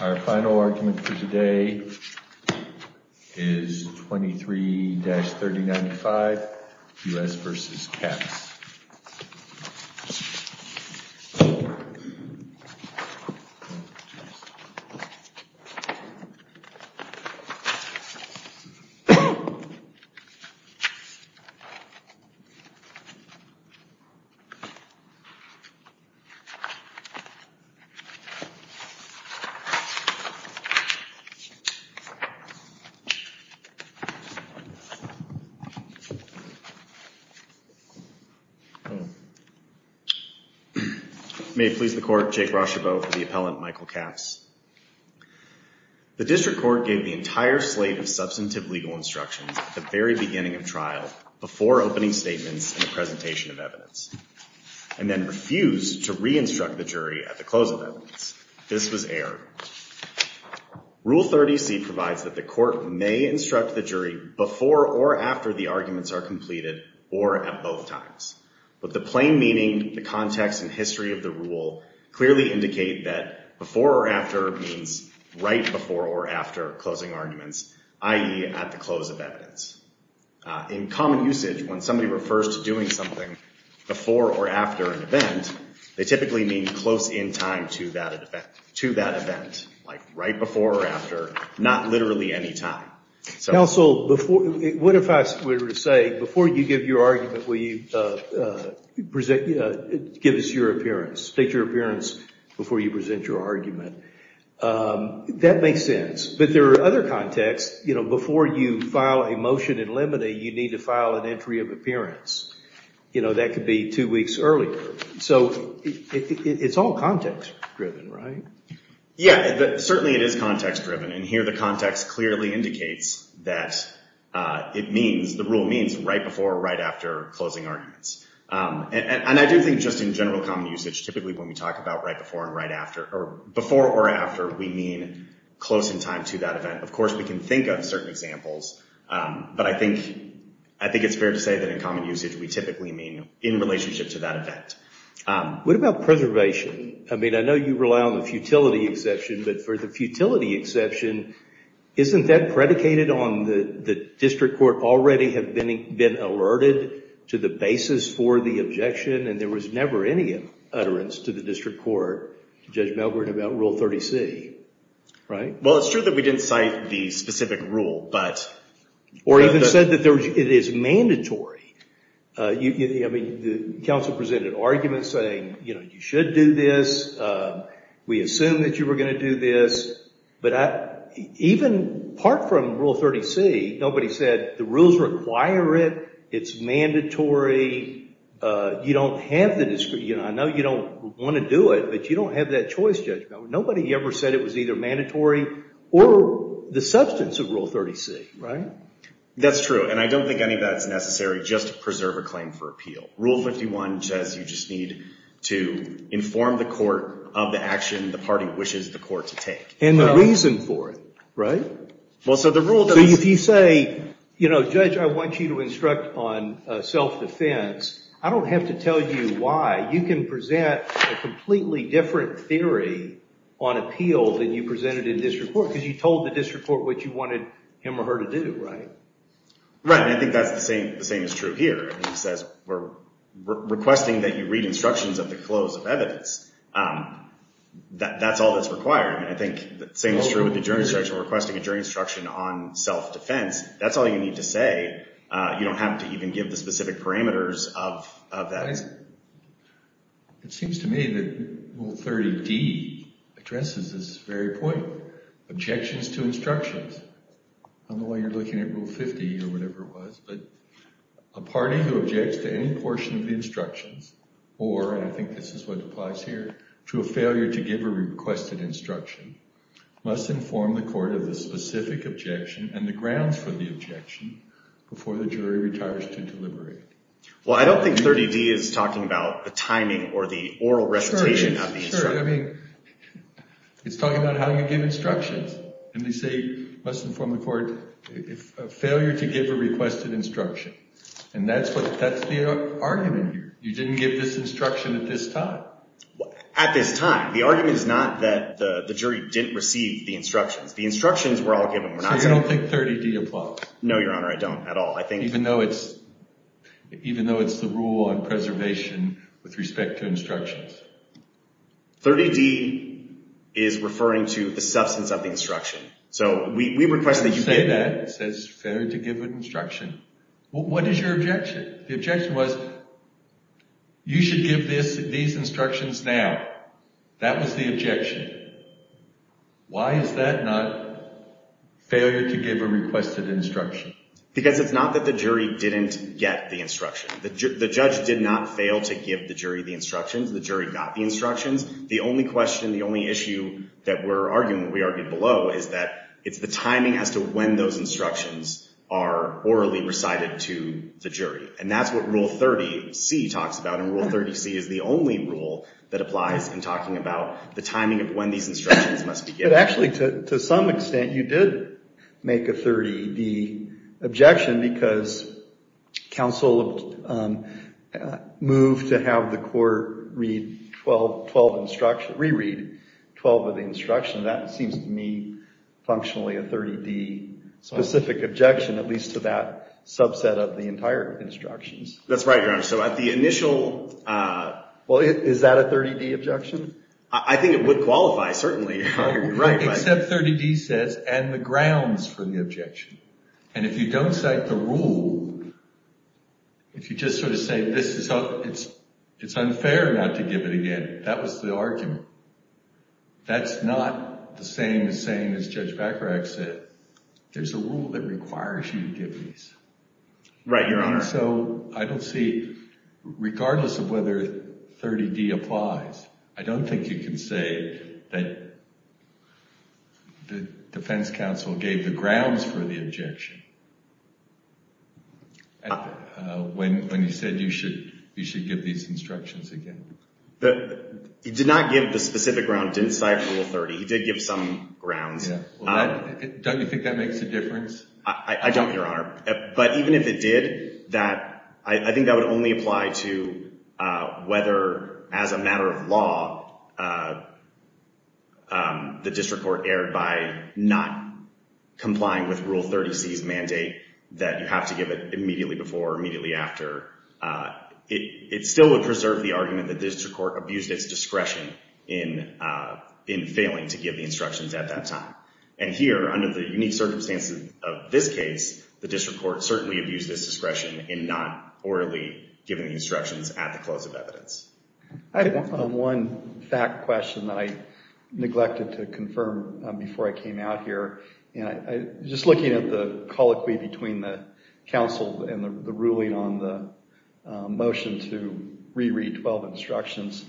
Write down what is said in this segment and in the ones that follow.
Our final argument for today is 23-3095 U.S. v. Capps. May it please the Court, Jake Rochebeau for the appellant Michael Capps. The District Court gave the entire slate of substantive legal instructions at the very beginning of trial before opening statements and the presentation of evidence, and then refused to re-instruct the jury at the close of evidence. This was errored. Rule 30C provides that the Court may instruct the jury before or after the arguments are completed or at both times, but the plain meaning, the context, and history of the rule clearly indicate that before or after means right before or after closing arguments, i.e. at the close of evidence. In common usage, when somebody refers to doing something before or after an event, they typically mean close in time to that event, like right before or after, not literally any time. Counsel, what if I were to say, before you give your argument, will you give us your appearance? State your appearance before you present your argument. That makes sense. But there are other contexts. Before you file a motion in limine, you need to file an entry of appearance. That could be two weeks earlier. So it's all context-driven, right? Yeah, certainly it is context-driven. And here, the context clearly indicates that the rule means right before or right after closing arguments. And I do think just in general common usage, typically when we talk about right before and right after, or before or after, we mean close in time to that event. Of course, we can think of certain examples, but I think it's fair to say that in common What about preservation? I mean, I know you rely on the futility exception, but for the futility exception, isn't that predicated on the district court already have been alerted to the basis for the objection and there was never any utterance to the district court, Judge Milgren, about Rule 30C, right? Well, it's true that we didn't cite the specific rule, but... Or even said that it is mandatory. I mean, the council presented an argument saying, you know, you should do this. We assume that you were going to do this, but even part from Rule 30C, nobody said the rules require it, it's mandatory, you don't have the discretion. I know you don't want to do it, but you don't have that choice, Judge Milgren. Nobody ever said it was either mandatory or the substance of Rule 30C, right? That's true. And I don't think any of that's necessary just to preserve a claim for appeal. Rule 51 says you just need to inform the court of the action the party wishes the court to take. And the reason for it, right? Well, so the rule... So if you say, you know, Judge, I want you to instruct on self-defense, I don't have to tell you why, you can present a completely different theory on appeal than you presented in district court, because you told the district court what you wanted him or her to do, right? Right. And I think that's the same is true here. It says we're requesting that you read instructions of the close of evidence. That's all that's required. And I think the same is true with the jury instruction, we're requesting a jury instruction on self-defense. That's all you need to say. You don't have to even give the specific parameters of that. It seems to me that Rule 30D addresses this very point, objections to instructions, on Rule 50 or whatever it was, but a party who objects to any portion of the instructions or, and I think this is what applies here, to a failure to give a requested instruction must inform the court of the specific objection and the grounds for the objection before the jury retires to deliberate. Well, I don't think 30D is talking about the timing or the oral recitation of the instruction. Sure, sure. I mean, it's talking about how you give instructions. And they say, must inform the court, if a failure to give a requested instruction. And that's what, that's the argument here. You didn't give this instruction at this time. At this time. The argument is not that the jury didn't receive the instructions. The instructions were all given. We're not saying- So you don't think 30D applies? No, Your Honor. I don't at all. I think- Even though it's, even though it's the rule on preservation with respect to instructions? 30D is referring to the substance of the instruction. So we request that you give- You say that. It says, failure to give an instruction. What is your objection? The objection was, you should give this, these instructions now. That was the objection. Why is that not failure to give a requested instruction? Because it's not that the jury didn't get the instruction. The judge did not fail to give the jury the instructions. The jury got the instructions. The only question, the only issue that we're arguing, that we argued below, is that it's the timing as to when those instructions are orally recited to the jury. And that's what Rule 30C talks about, and Rule 30C is the only rule that applies in talking about the timing of when these instructions must be given. But actually, to some extent, you did make a 30D objection because counsel moved to have the court re-read 12 of the instructions. That seems to me, functionally, a 30D specific objection, at least to that subset of the entire instructions. That's right, Your Honor. So at the initial- Well, is that a 30D objection? I think it would qualify, certainly. Right. Except 30D says, and the grounds for the objection. And if you don't cite the rule, if you just sort of say, it's unfair not to give it again, that was the argument. That's not the same as saying, as Judge Bacharach said, there's a rule that requires you to give these. Right, Your Honor. And so, I don't see, regardless of whether 30D applies, I don't think you can say that the defense counsel gave the grounds for the objection when he said you should give these instructions again. He did not give the specific grounds, didn't cite Rule 30. He did give some grounds. Yeah. Well, don't you think that makes a difference? I don't, Your Honor. But even if it did, I think that would only apply to whether, as a matter of law, the defendant, not complying with Rule 30C's mandate that you have to give it immediately before or immediately after, it still would preserve the argument that the district court abused its discretion in failing to give the instructions at that time. And here, under the unique circumstances of this case, the district court certainly abused its discretion in not orally giving the instructions at the close of evidence. I have one fact question that I neglected to confirm before I came out here. Just looking at the colloquy between the counsel and the ruling on the motion to re-read 12 instructions,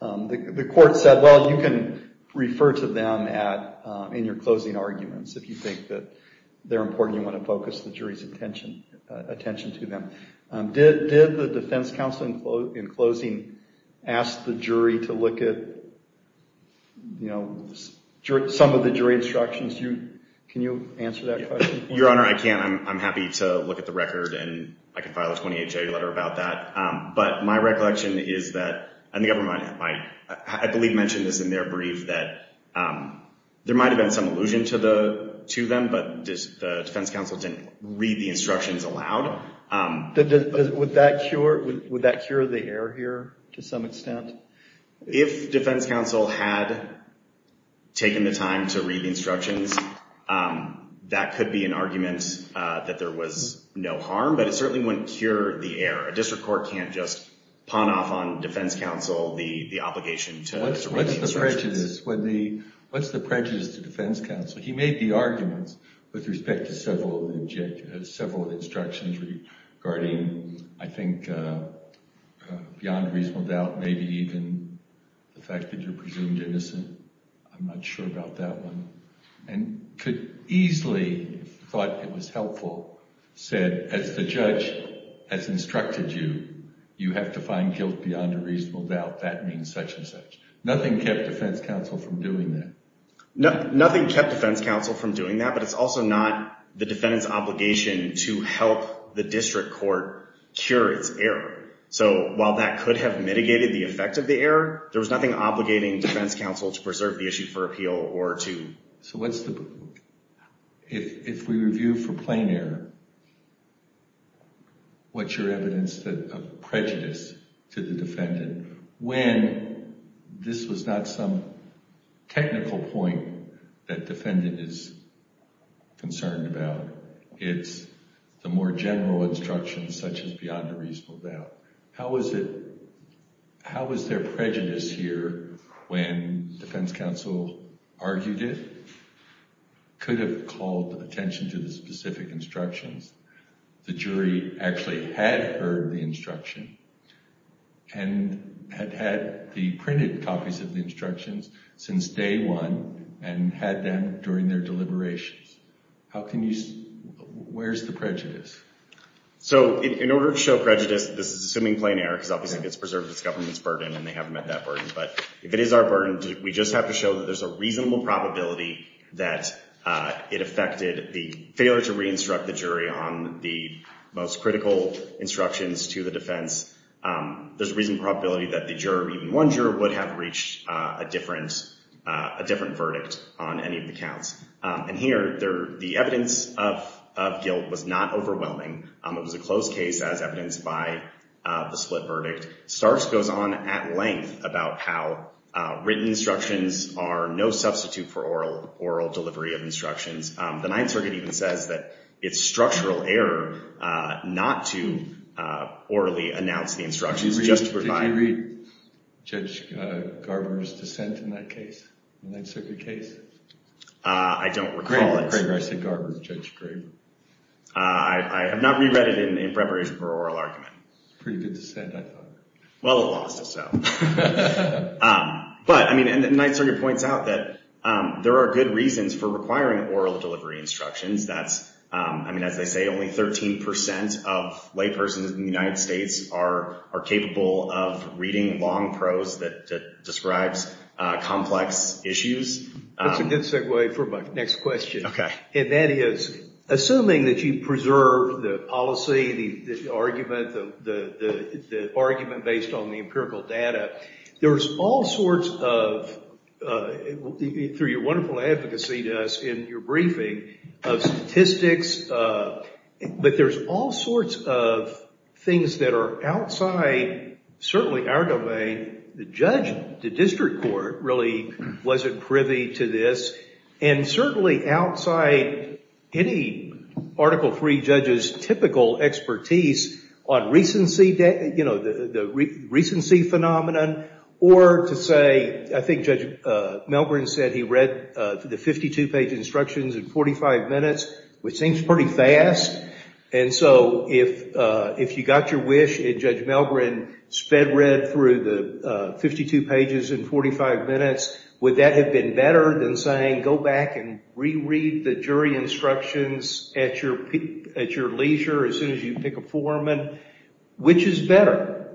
the court said, well, you can refer to them in your closing arguments if you think that they're important and you want to focus the jury's attention to them. Did the defense counsel, in closing, ask the jury to look at some of the jury instructions? Can you answer that question? Your Honor, I can't. I'm happy to look at the record and I can file a 28-J letter about that. But my recollection is that, and the government might, I believe mentioned this in their brief, that there might have been some allusion to them, but the defense counsel didn't read the instructions aloud. Would that cure the error here, to some extent? If defense counsel had taken the time to read the instructions, that could be an argument that there was no harm, but it certainly wouldn't cure the error. A district court can't just pawn off on defense counsel the obligation to read the instructions. What's the prejudice to defense counsel? He made the arguments with respect to several instructions regarding, I think, beyond reasonable doubt, maybe even the fact that you're presumed innocent. I'm not sure about that one. And could easily, if he thought it was helpful, said, as the judge has instructed you, you have to find guilt beyond a reasonable doubt. That means such and such. Nothing kept defense counsel from doing that. Nothing kept defense counsel from doing that, but it's also not the defendant's obligation to help the district court cure its error. So while that could have mitigated the effect of the error, there was nothing obligating defense counsel to preserve the issue for appeal or to... So what's the... If we review for plain error, what's your evidence of prejudice to the defendant when again, this was not some technical point that defendant is concerned about. It's the more general instructions such as beyond a reasonable doubt. How was it... How was there prejudice here when defense counsel argued it? Could have called attention to the specific instructions. The jury actually had heard the instruction and had had the printed copies of the instructions since day one and had them during their deliberations. How can you... Where's the prejudice? So in order to show prejudice, this is assuming plain error, because obviously it gets preserved as government's burden and they haven't met that burden, but if it is our burden, we just have to show that there's a reasonable probability that it affected the failure to re-instruct the jury on the most critical instructions to the defense. There's a reasonable probability that the juror, even one juror, would have reached a different verdict on any of the counts. And here, the evidence of guilt was not overwhelming. It was a closed case as evidenced by the split verdict. Starks goes on at length about how written instructions are no substitute for oral delivery of instructions. The Ninth Circuit even says that it's structural error not to orally announce the instructions justifying... Did you read Judge Garber's dissent in that case, the Ninth Circuit case? I don't recall it. Craig Rice and Garber, Judge Graber. I have not reread it in preparation for oral argument. Pretty good dissent, I thought. Well, it lost itself. But, I mean, and the Ninth Circuit points out that there are good reasons for requiring oral delivery instructions. That's, I mean, as they say, only 13% of laypersons in the United States are capable of reading long prose that describes complex issues. That's a good segue for my next question. Okay. And that is, assuming that you preserve the policy, the argument based on the empirical data, there's all sorts of, through your wonderful advocacy to us in your briefing, of statistics, but there's all sorts of things that are outside certainly our domain. The judge, the district court, really wasn't privy to this, and certainly outside any Article III judge's typical expertise on the recency phenomenon, or to say, I think Judge Melgren said he read the 52-page instructions in 45 minutes, which seems pretty fast. And so, if you got your wish and Judge Melgren sped through the 52 pages in 45 minutes, would that have been better than saying, go back and reread the jury instructions at your leisure as soon as you pick a foreman? Which is better?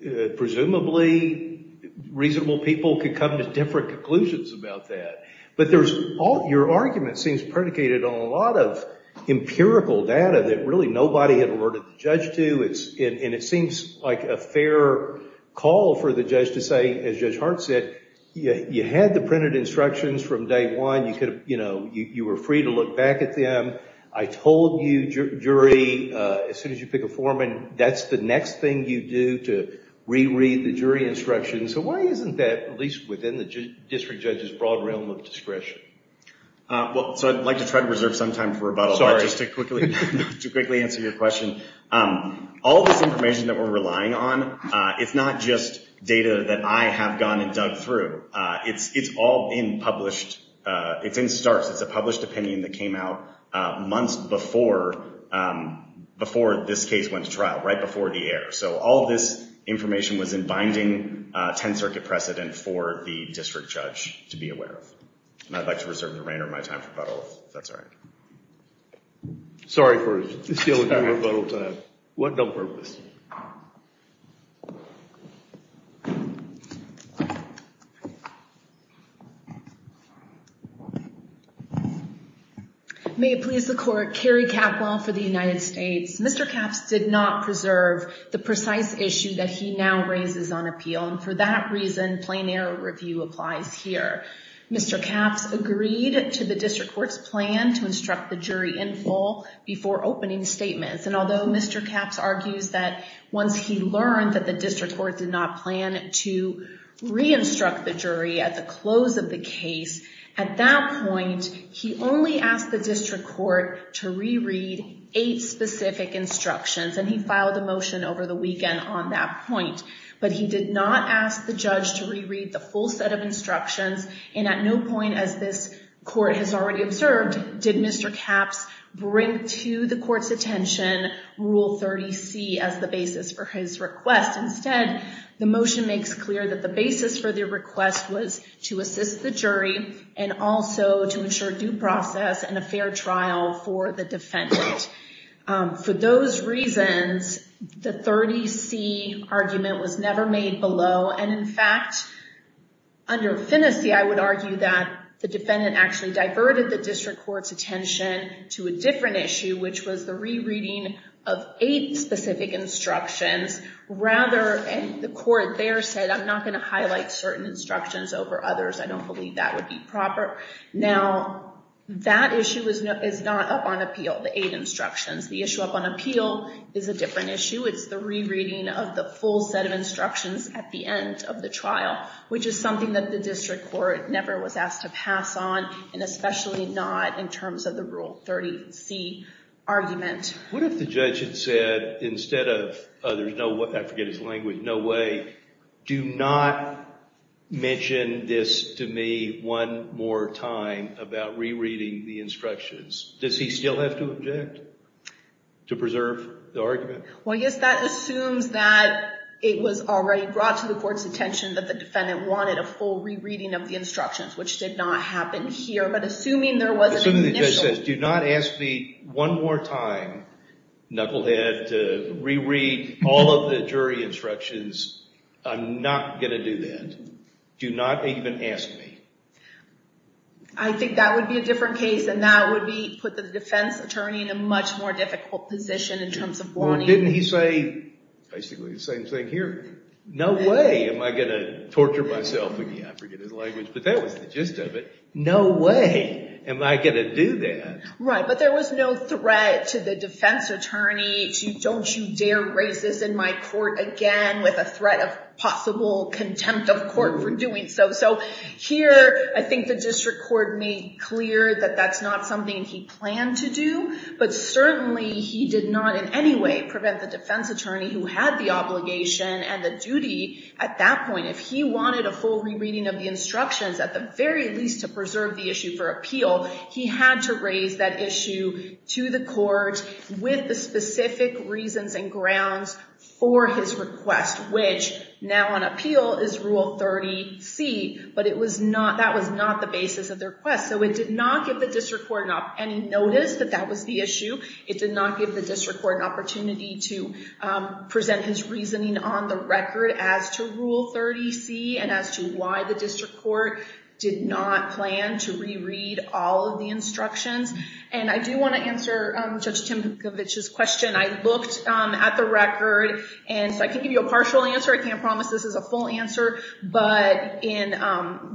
Presumably reasonable people could come to different conclusions about that. But there's all, your argument seems predicated on a lot of empirical data that really nobody had alerted the judge to, and it seems like a fair call for the judge to say, as Judge Melgren said, you had the printed instructions from day one. You were free to look back at them. I told you, jury, as soon as you pick a foreman, that's the next thing you do to reread the jury instructions. So why isn't that, at least within the district judge's broad realm of discretion? Well, so I'd like to try to reserve some time for rebuttal, but just to quickly answer your question, all this information that we're relying on, it's not just data that I have gone and dug through. It's all in published, it's in starts, it's a published opinion that came out months before this case went to trial, right before the air. So all of this information was in binding 10-circuit precedent for the district judge to be aware of. And I'd like to reserve the remainder of my time for rebuttal, if that's all right. Sorry for stealing your rebuttal time. One more person. May it please the court, Carrie Capwell for the United States. Mr. Capps did not preserve the precise issue that he now raises on appeal, and for that reason, plain error review applies here. Mr. Capps agreed to the district court's plan to instruct the jury in full before opening statements, and although Mr. Capps argues that once he learned that the district court did not plan to re-instruct the jury at the close of the case, at that point, he only asked the district court to re-read eight specific instructions, and he filed a motion over the weekend on that point. But he did not ask the judge to re-read the full set of instructions, and at no point, as this court has already observed, did Mr. Capps bring to the court's attention Rule 30C as the basis for his request. Instead, the motion makes clear that the basis for the request was to assist the jury, and also to ensure due process and a fair trial for the defendant. For those reasons, the 30C argument was never made below, and in fact, under finesse, I would argue that the defendant actually diverted the district court's attention to a different issue, which was the re-reading of eight specific instructions, rather, and the court there said I'm not going to highlight certain instructions over others. I don't believe that would be proper. Now, that issue is not up on appeal, the eight instructions. The issue up on appeal is a different issue. It's the re-reading of the full set of instructions at the end of the trial, which is something that the district court never was asked to pass on, and especially not in terms of the Rule 30C argument. What if the judge had said, instead of there's no way, I forget his language, no way, do not mention this to me one more time about re-reading the instructions? Does he still have to object to preserve the argument? Well, yes, that assumes that it was already brought to the court's attention that the whole re-reading of the instructions, which did not happen here, but assuming there was Assuming the judge says, do not ask me one more time, knucklehead, to re-read all of the jury instructions, I'm not going to do that. Do not even ask me. I think that would be a different case, and that would put the defense attorney in a much more difficult position in terms of warning. Well, didn't he say basically the same thing here? No way am I going to torture myself again, I forget his language, but that was the gist of it. No way am I going to do that. Right, but there was no threat to the defense attorney, don't you dare raise this in my court again with a threat of possible contempt of court for doing so. So here, I think the district court made clear that that's not something he planned to do, but certainly he did not in any way prevent the defense attorney who had the obligation and the duty at that point, if he wanted a full re-reading of the instructions, at the very least to preserve the issue for appeal, he had to raise that issue to the court with the specific reasons and grounds for his request, which now on appeal is Rule 30C, but that was not the basis of the request, so it did not give the district court any notice that that was the issue. It did not give the district court an opportunity to present his reasoning on the record as to Rule 30C and as to why the district court did not plan to re-read all of the instructions, and I do want to answer Judge Timkovich's question. I looked at the record, and so I can give you a partial answer, I can't promise this is a full answer, but in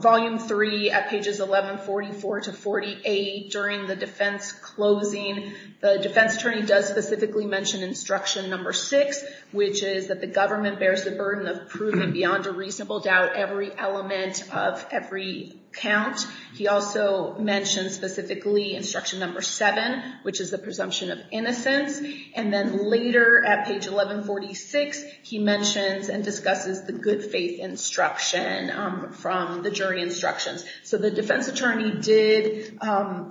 Volume 3 at pages 1144-48 during the defense closing, the defense attorney does specifically mention Instruction No. 6, which is that the government bears the burden of proving beyond a reasonable doubt every element of every count. He also mentions specifically Instruction No. 7, which is the presumption of innocence, and then later at page 1146, he mentions and discusses the good faith instruction from the jury instructions, so the defense attorney did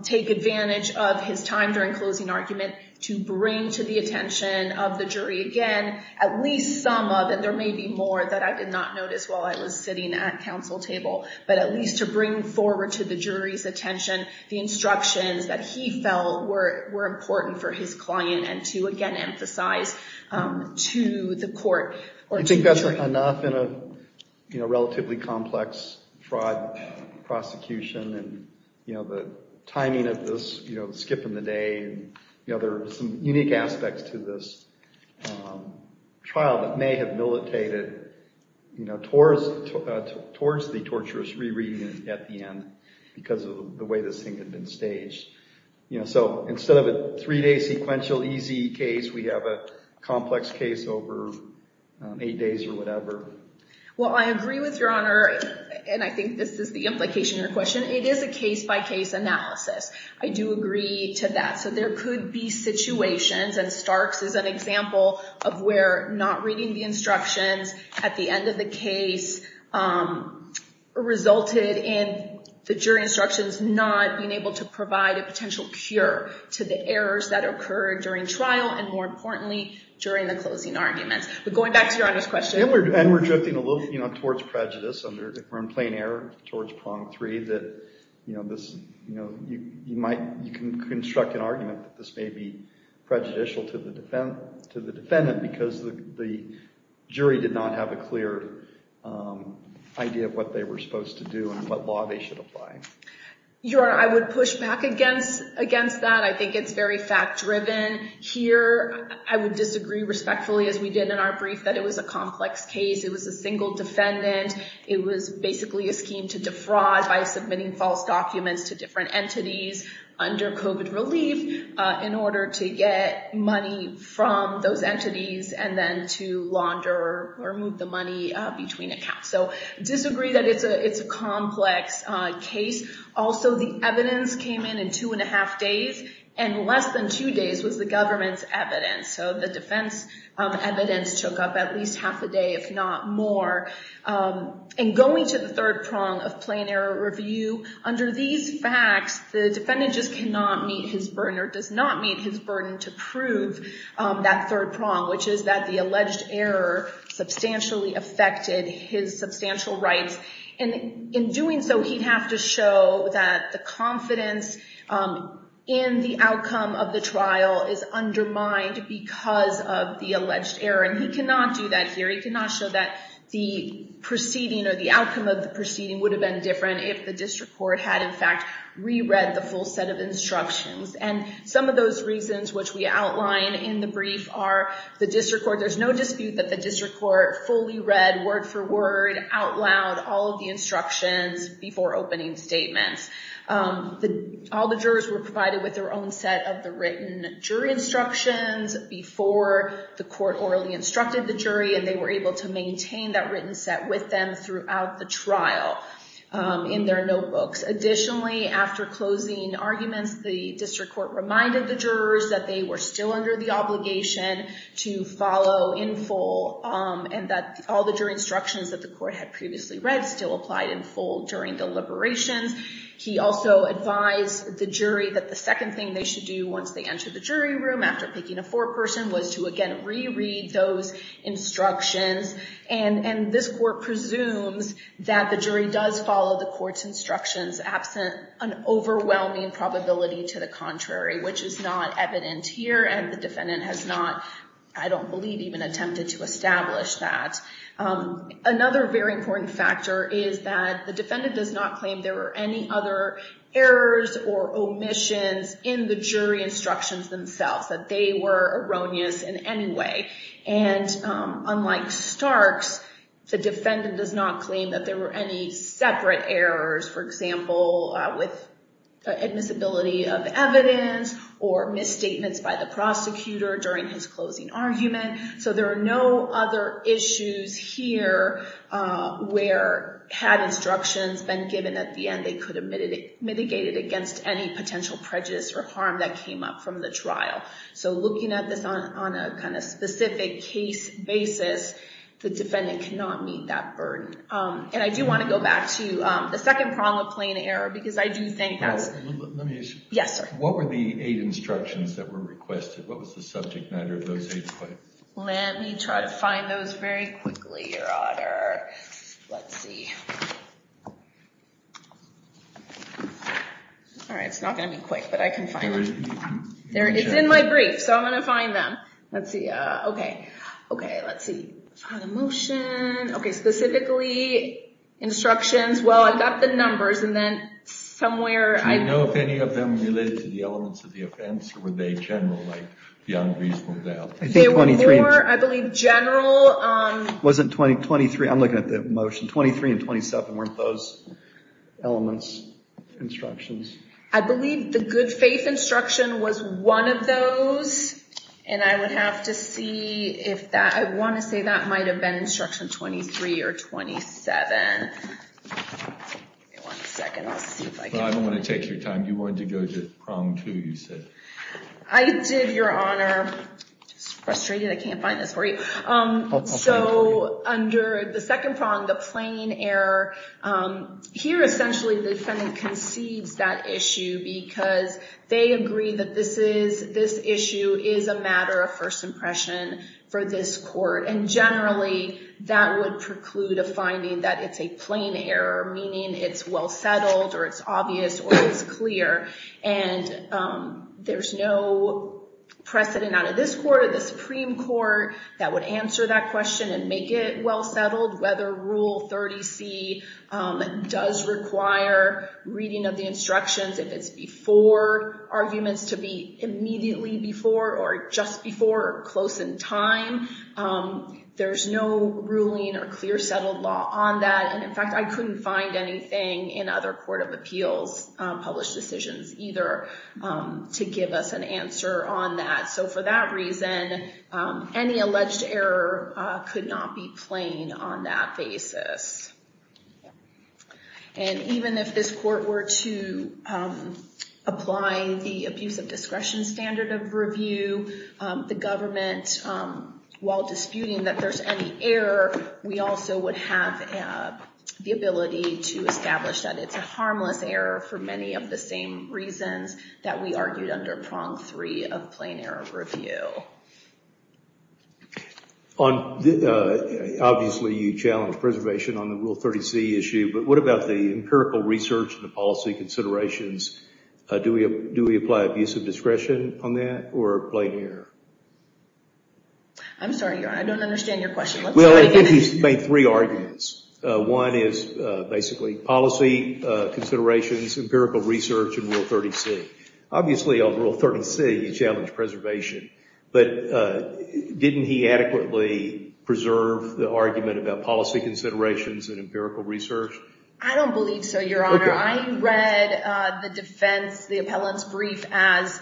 take advantage of his time during closing argument to bring to the attention of the jury again at least some of, and there may be more that I did not notice while I was sitting at counsel table, but at least to bring forward to the jury's attention the instructions that he felt were important for his client, and to, again, emphasize to the court. I think that's enough in a relatively complex fraud prosecution, and the timing of this skip in the day, there are some unique aspects to this trial that may have militated towards the torturous re-reading at the end because of the way this thing had been staged. So instead of a three-day sequential easy case, we have a complex case over eight days or whatever. Well, I agree with your honor, and I think this is the implication of your question. It is a case-by-case analysis. I do agree to that. So there could be situations, and Starks is an example of where not reading the instructions at the end of the case resulted in the jury instructions not being able to provide a potential cure to the errors that occurred during trial, and more importantly, during the closing arguments. But going back to your honor's question. And we're drifting a little towards prejudice, and we're in plain error towards prong three that you can construct an argument that this may be prejudicial to the defendant because the jury did not have a clear idea of what they were supposed to do and what law they should apply. Your honor, I would push back against that. I think it's very fact-driven. Here, I would disagree respectfully, as we did in our brief, that it was a complex case. It was a single defendant. It was basically a scheme to defraud by submitting false documents to different entities under COVID relief in order to get money from those entities and then to launder or move the money between accounts. So I disagree that it's a complex case. Also the evidence came in in two and a half days, and less than two days was the government's evidence. So the defense evidence took up at least half a day, if not more. And going to the third prong of plain error review, under these facts, the defendant just cannot meet his burden or does not meet his burden to prove that third prong, which is that the alleged error substantially affected his substantial rights. And in doing so, he'd have to show that the confidence in the outcome of the trial is undermined because of the alleged error. And he cannot do that here. He cannot show that the proceeding or the outcome of the proceeding would have been different if the district court had, in fact, re-read the full set of instructions. And some of those reasons, which we outline in the brief, are the district court, there's no dispute that the district court fully read word for word, out loud, all of the instructions before opening statements. All the jurors were provided with their own set of the written jury instructions before the court orally instructed the jury, and they were able to maintain that written set with them throughout the trial in their notebooks. Additionally, after closing arguments, the district court reminded the jurors that they were still under the obligation to follow in full and that all the jury instructions that the court had previously read still applied in full during deliberations. He also advised the jury that the second thing they should do once they enter the jury room after picking a foreperson was to, again, re-read those instructions. And this court presumes that the jury does follow the court's instructions absent an overwhelming probability to the contrary, which is not evident here, and the defendant has not, I don't believe, even attempted to establish that. Another very important factor is that the defendant does not claim there were any other errors or omissions in the jury instructions themselves, that they were erroneous in any way. And unlike Starks, the defendant does not claim that there were any separate errors, for example, with admissibility of evidence or misstatements by the prosecutor during his closing argument. So there are no other issues here where, had instructions been given at the end, they could have been mitigated against any potential prejudice or harm that came up from the trial. So looking at this on a kind of specific case basis, the defendant cannot meet that burden. And I do want to go back to the second prong of plain error, because I do think that's... Let me ask you. Yes, sir. What were the aid instructions that were requested? What was the subject matter of those aid claims? Let me try to find those very quickly, Your Honor. Let's see. All right. It's not going to be quick, but I can find them. It's in my brief, so I'm going to find them. Let's see. Okay. Okay. Let's see. Found a motion. Okay. Specifically, instructions. Well, I've got the numbers, and then somewhere... Do you know if any of them related to the elements of the offense, or were they general, like the unreasonable doubt? I think 23... They were more, I believe, general... It wasn't 23. I'm looking at the motion. 23 and 27, weren't those elements instructions? I believe the good faith instruction was one of those, and I would have to see if that... I want to say that might have been instruction 23 or 27. Give me one second. I'll see if I can... I don't want to take your time. You wanted to go to prong two, you said. I did, Your Honor. I can't find this for you. I'll find it for you. So, under the second prong, the plain error. Here, essentially, the defendant concedes that issue because they agree that this issue is a matter of first impression for this court, and generally, that would preclude a finding that it's a plain error, meaning it's well-settled, or it's obvious, or it's clear, and there's no precedent out of this court or the Supreme Court that would answer that question and make it well-settled. Whether Rule 30C does require reading of the instructions, if it's before arguments to be immediately before, or just before, or close in time, there's no ruling or clear settled law on that, and in fact, I couldn't find anything in other court of appeals published decisions either to give us an answer on that. So, for that reason, any alleged error could not be plain on that basis, and even if this court were to apply the abuse of discretion standard of review, the government, while disputing that there's any error, we also would have the ability to establish that it's a harmless error for many of the same reasons that we argued under prong three of plain error review. Obviously, you challenge preservation on the Rule 30C issue, but what about the empirical research and the policy considerations? Do we apply abuse of discretion on that, or plain error? I'm sorry, Your Honor, I don't understand your question. Well, I think he's made three arguments. One is basically policy considerations, empirical research, and Rule 30C. Obviously, on Rule 30C, you challenge preservation, but didn't he adequately preserve the argument about policy considerations and empirical research? I don't believe so, Your Honor. I read the defense, the appellant's brief, as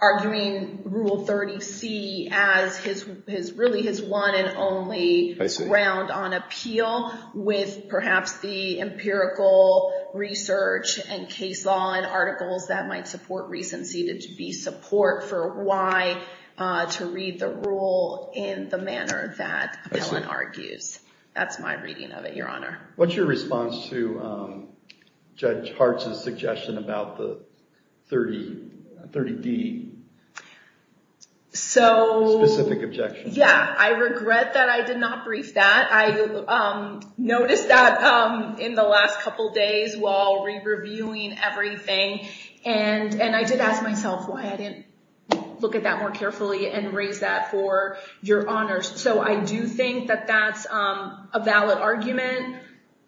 arguing Rule 30C as really his one and only round on appeal with perhaps the empirical research and case law and articles that might support recency to be support for why to read the rule in the manner that appellant argues. That's my reading of it, Your Honor. What's your response to Judge Hartz's suggestion about the 30D specific objection? Yeah, I regret that I did not brief that. I noticed that in the last couple days while re-reviewing everything, and I did ask myself why I didn't look at that more carefully and raise that for Your Honor. I do think that that's a valid argument.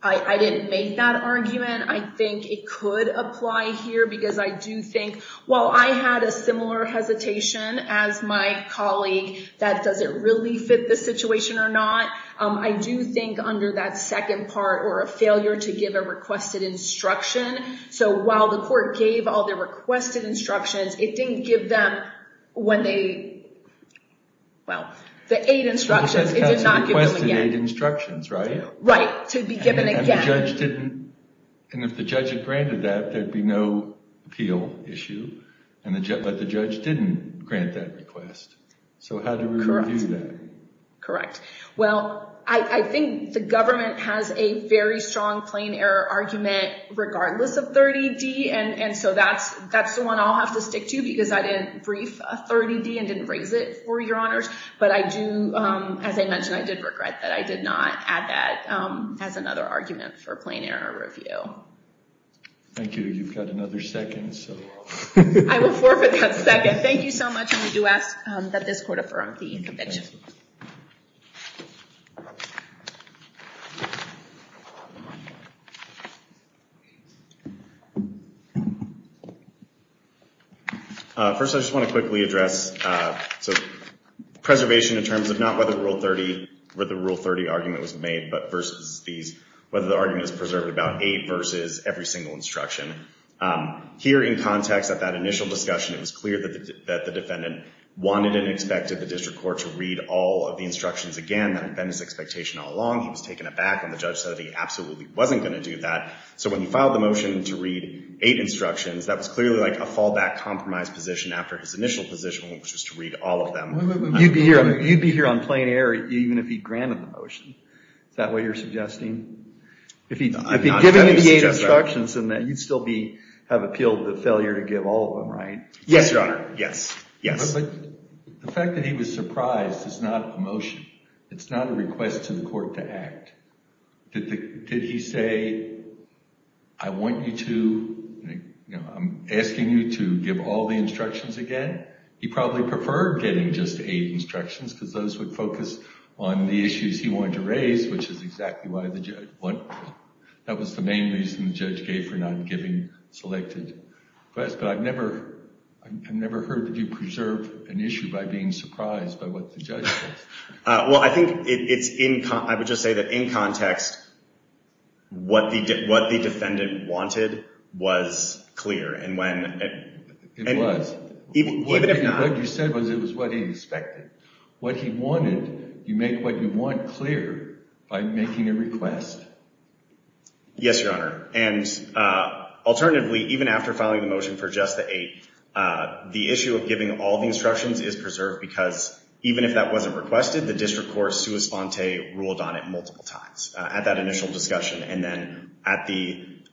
I didn't make that argument. I think it could apply here, because I do think while I had a similar hesitation as my colleague that does it really fit the situation or not, I do think under that second part or a failure to give a requested instruction. While the court gave all the requested instructions, it didn't give them the aid instructions. It did not give them the aid instructions, right? Right, to be given again. If the judge had granted that, there'd be no appeal issue, but the judge didn't grant that request. How do we review that? Correct. Well, I think the government has a very strong plain error argument regardless of 30D, and so that's the one I'll have to stick to because I didn't brief a 30D and didn't raise it for Your Honors. But as I mentioned, I did regret that I did not add that as another argument for plain error review. Thank you. You've got another second. I will forfeit that second. Thank you so much. I do ask that this court affirm the conviction. First, I just want to quickly address preservation in terms of not whether Rule 30 argument was made, but whether the argument is preserved about eight versus every single instruction. Here in context at that initial discussion, it was clear that the defendant wanted and expected the district court to read all of the instructions again. That had been his expectation all along. He was taking it back, and the judge said he absolutely wasn't going to do that. So when he filed the motion to read eight instructions, that was clearly like a fallback compromise position after his initial position, which was to read all of them. You'd be here on plain error even if he'd granted the motion. Is that what you're suggesting? If he'd given you the eight instructions, then you'd still have appealed the failure to give all of them, right? Yes, Your Honor. Yes. Yes. But the fact that he was surprised is not a motion. It's not a request to the court to act. Did he say, I want you to, I'm asking you to give all the instructions again? He probably preferred getting just eight instructions because those would focus on the issues he wanted to raise, which is exactly what the judge wanted. That was the main reason the judge gave for not giving selected requests. But I've never heard that you preserve an issue by being surprised by what the judge says. Well, I think it's in, I would just say that in context, what the defendant wanted was clear. It was. Even if not. What you said was it was what he expected. What he wanted, you make what you want clear by making a request. Yes, Your Honor. And alternatively, even after filing the motion for just the eight, the issue of giving all the instructions is preserved because even if that wasn't requested, the district court sua sponte ruled on it multiple times at that initial discussion. And then at the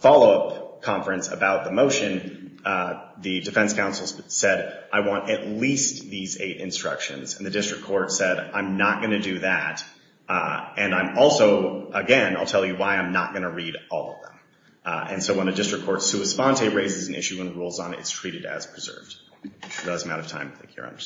follow-up conference about the motion, the defense counsel said, I want at least these eight instructions. And the district court said, I'm not going to do that. And I'm also, again, I'll tell you why I'm not going to read all of them. And so when a district court sua sponte raises an issue and rules on it, it's treated as preserved. Thank you, Your Honor.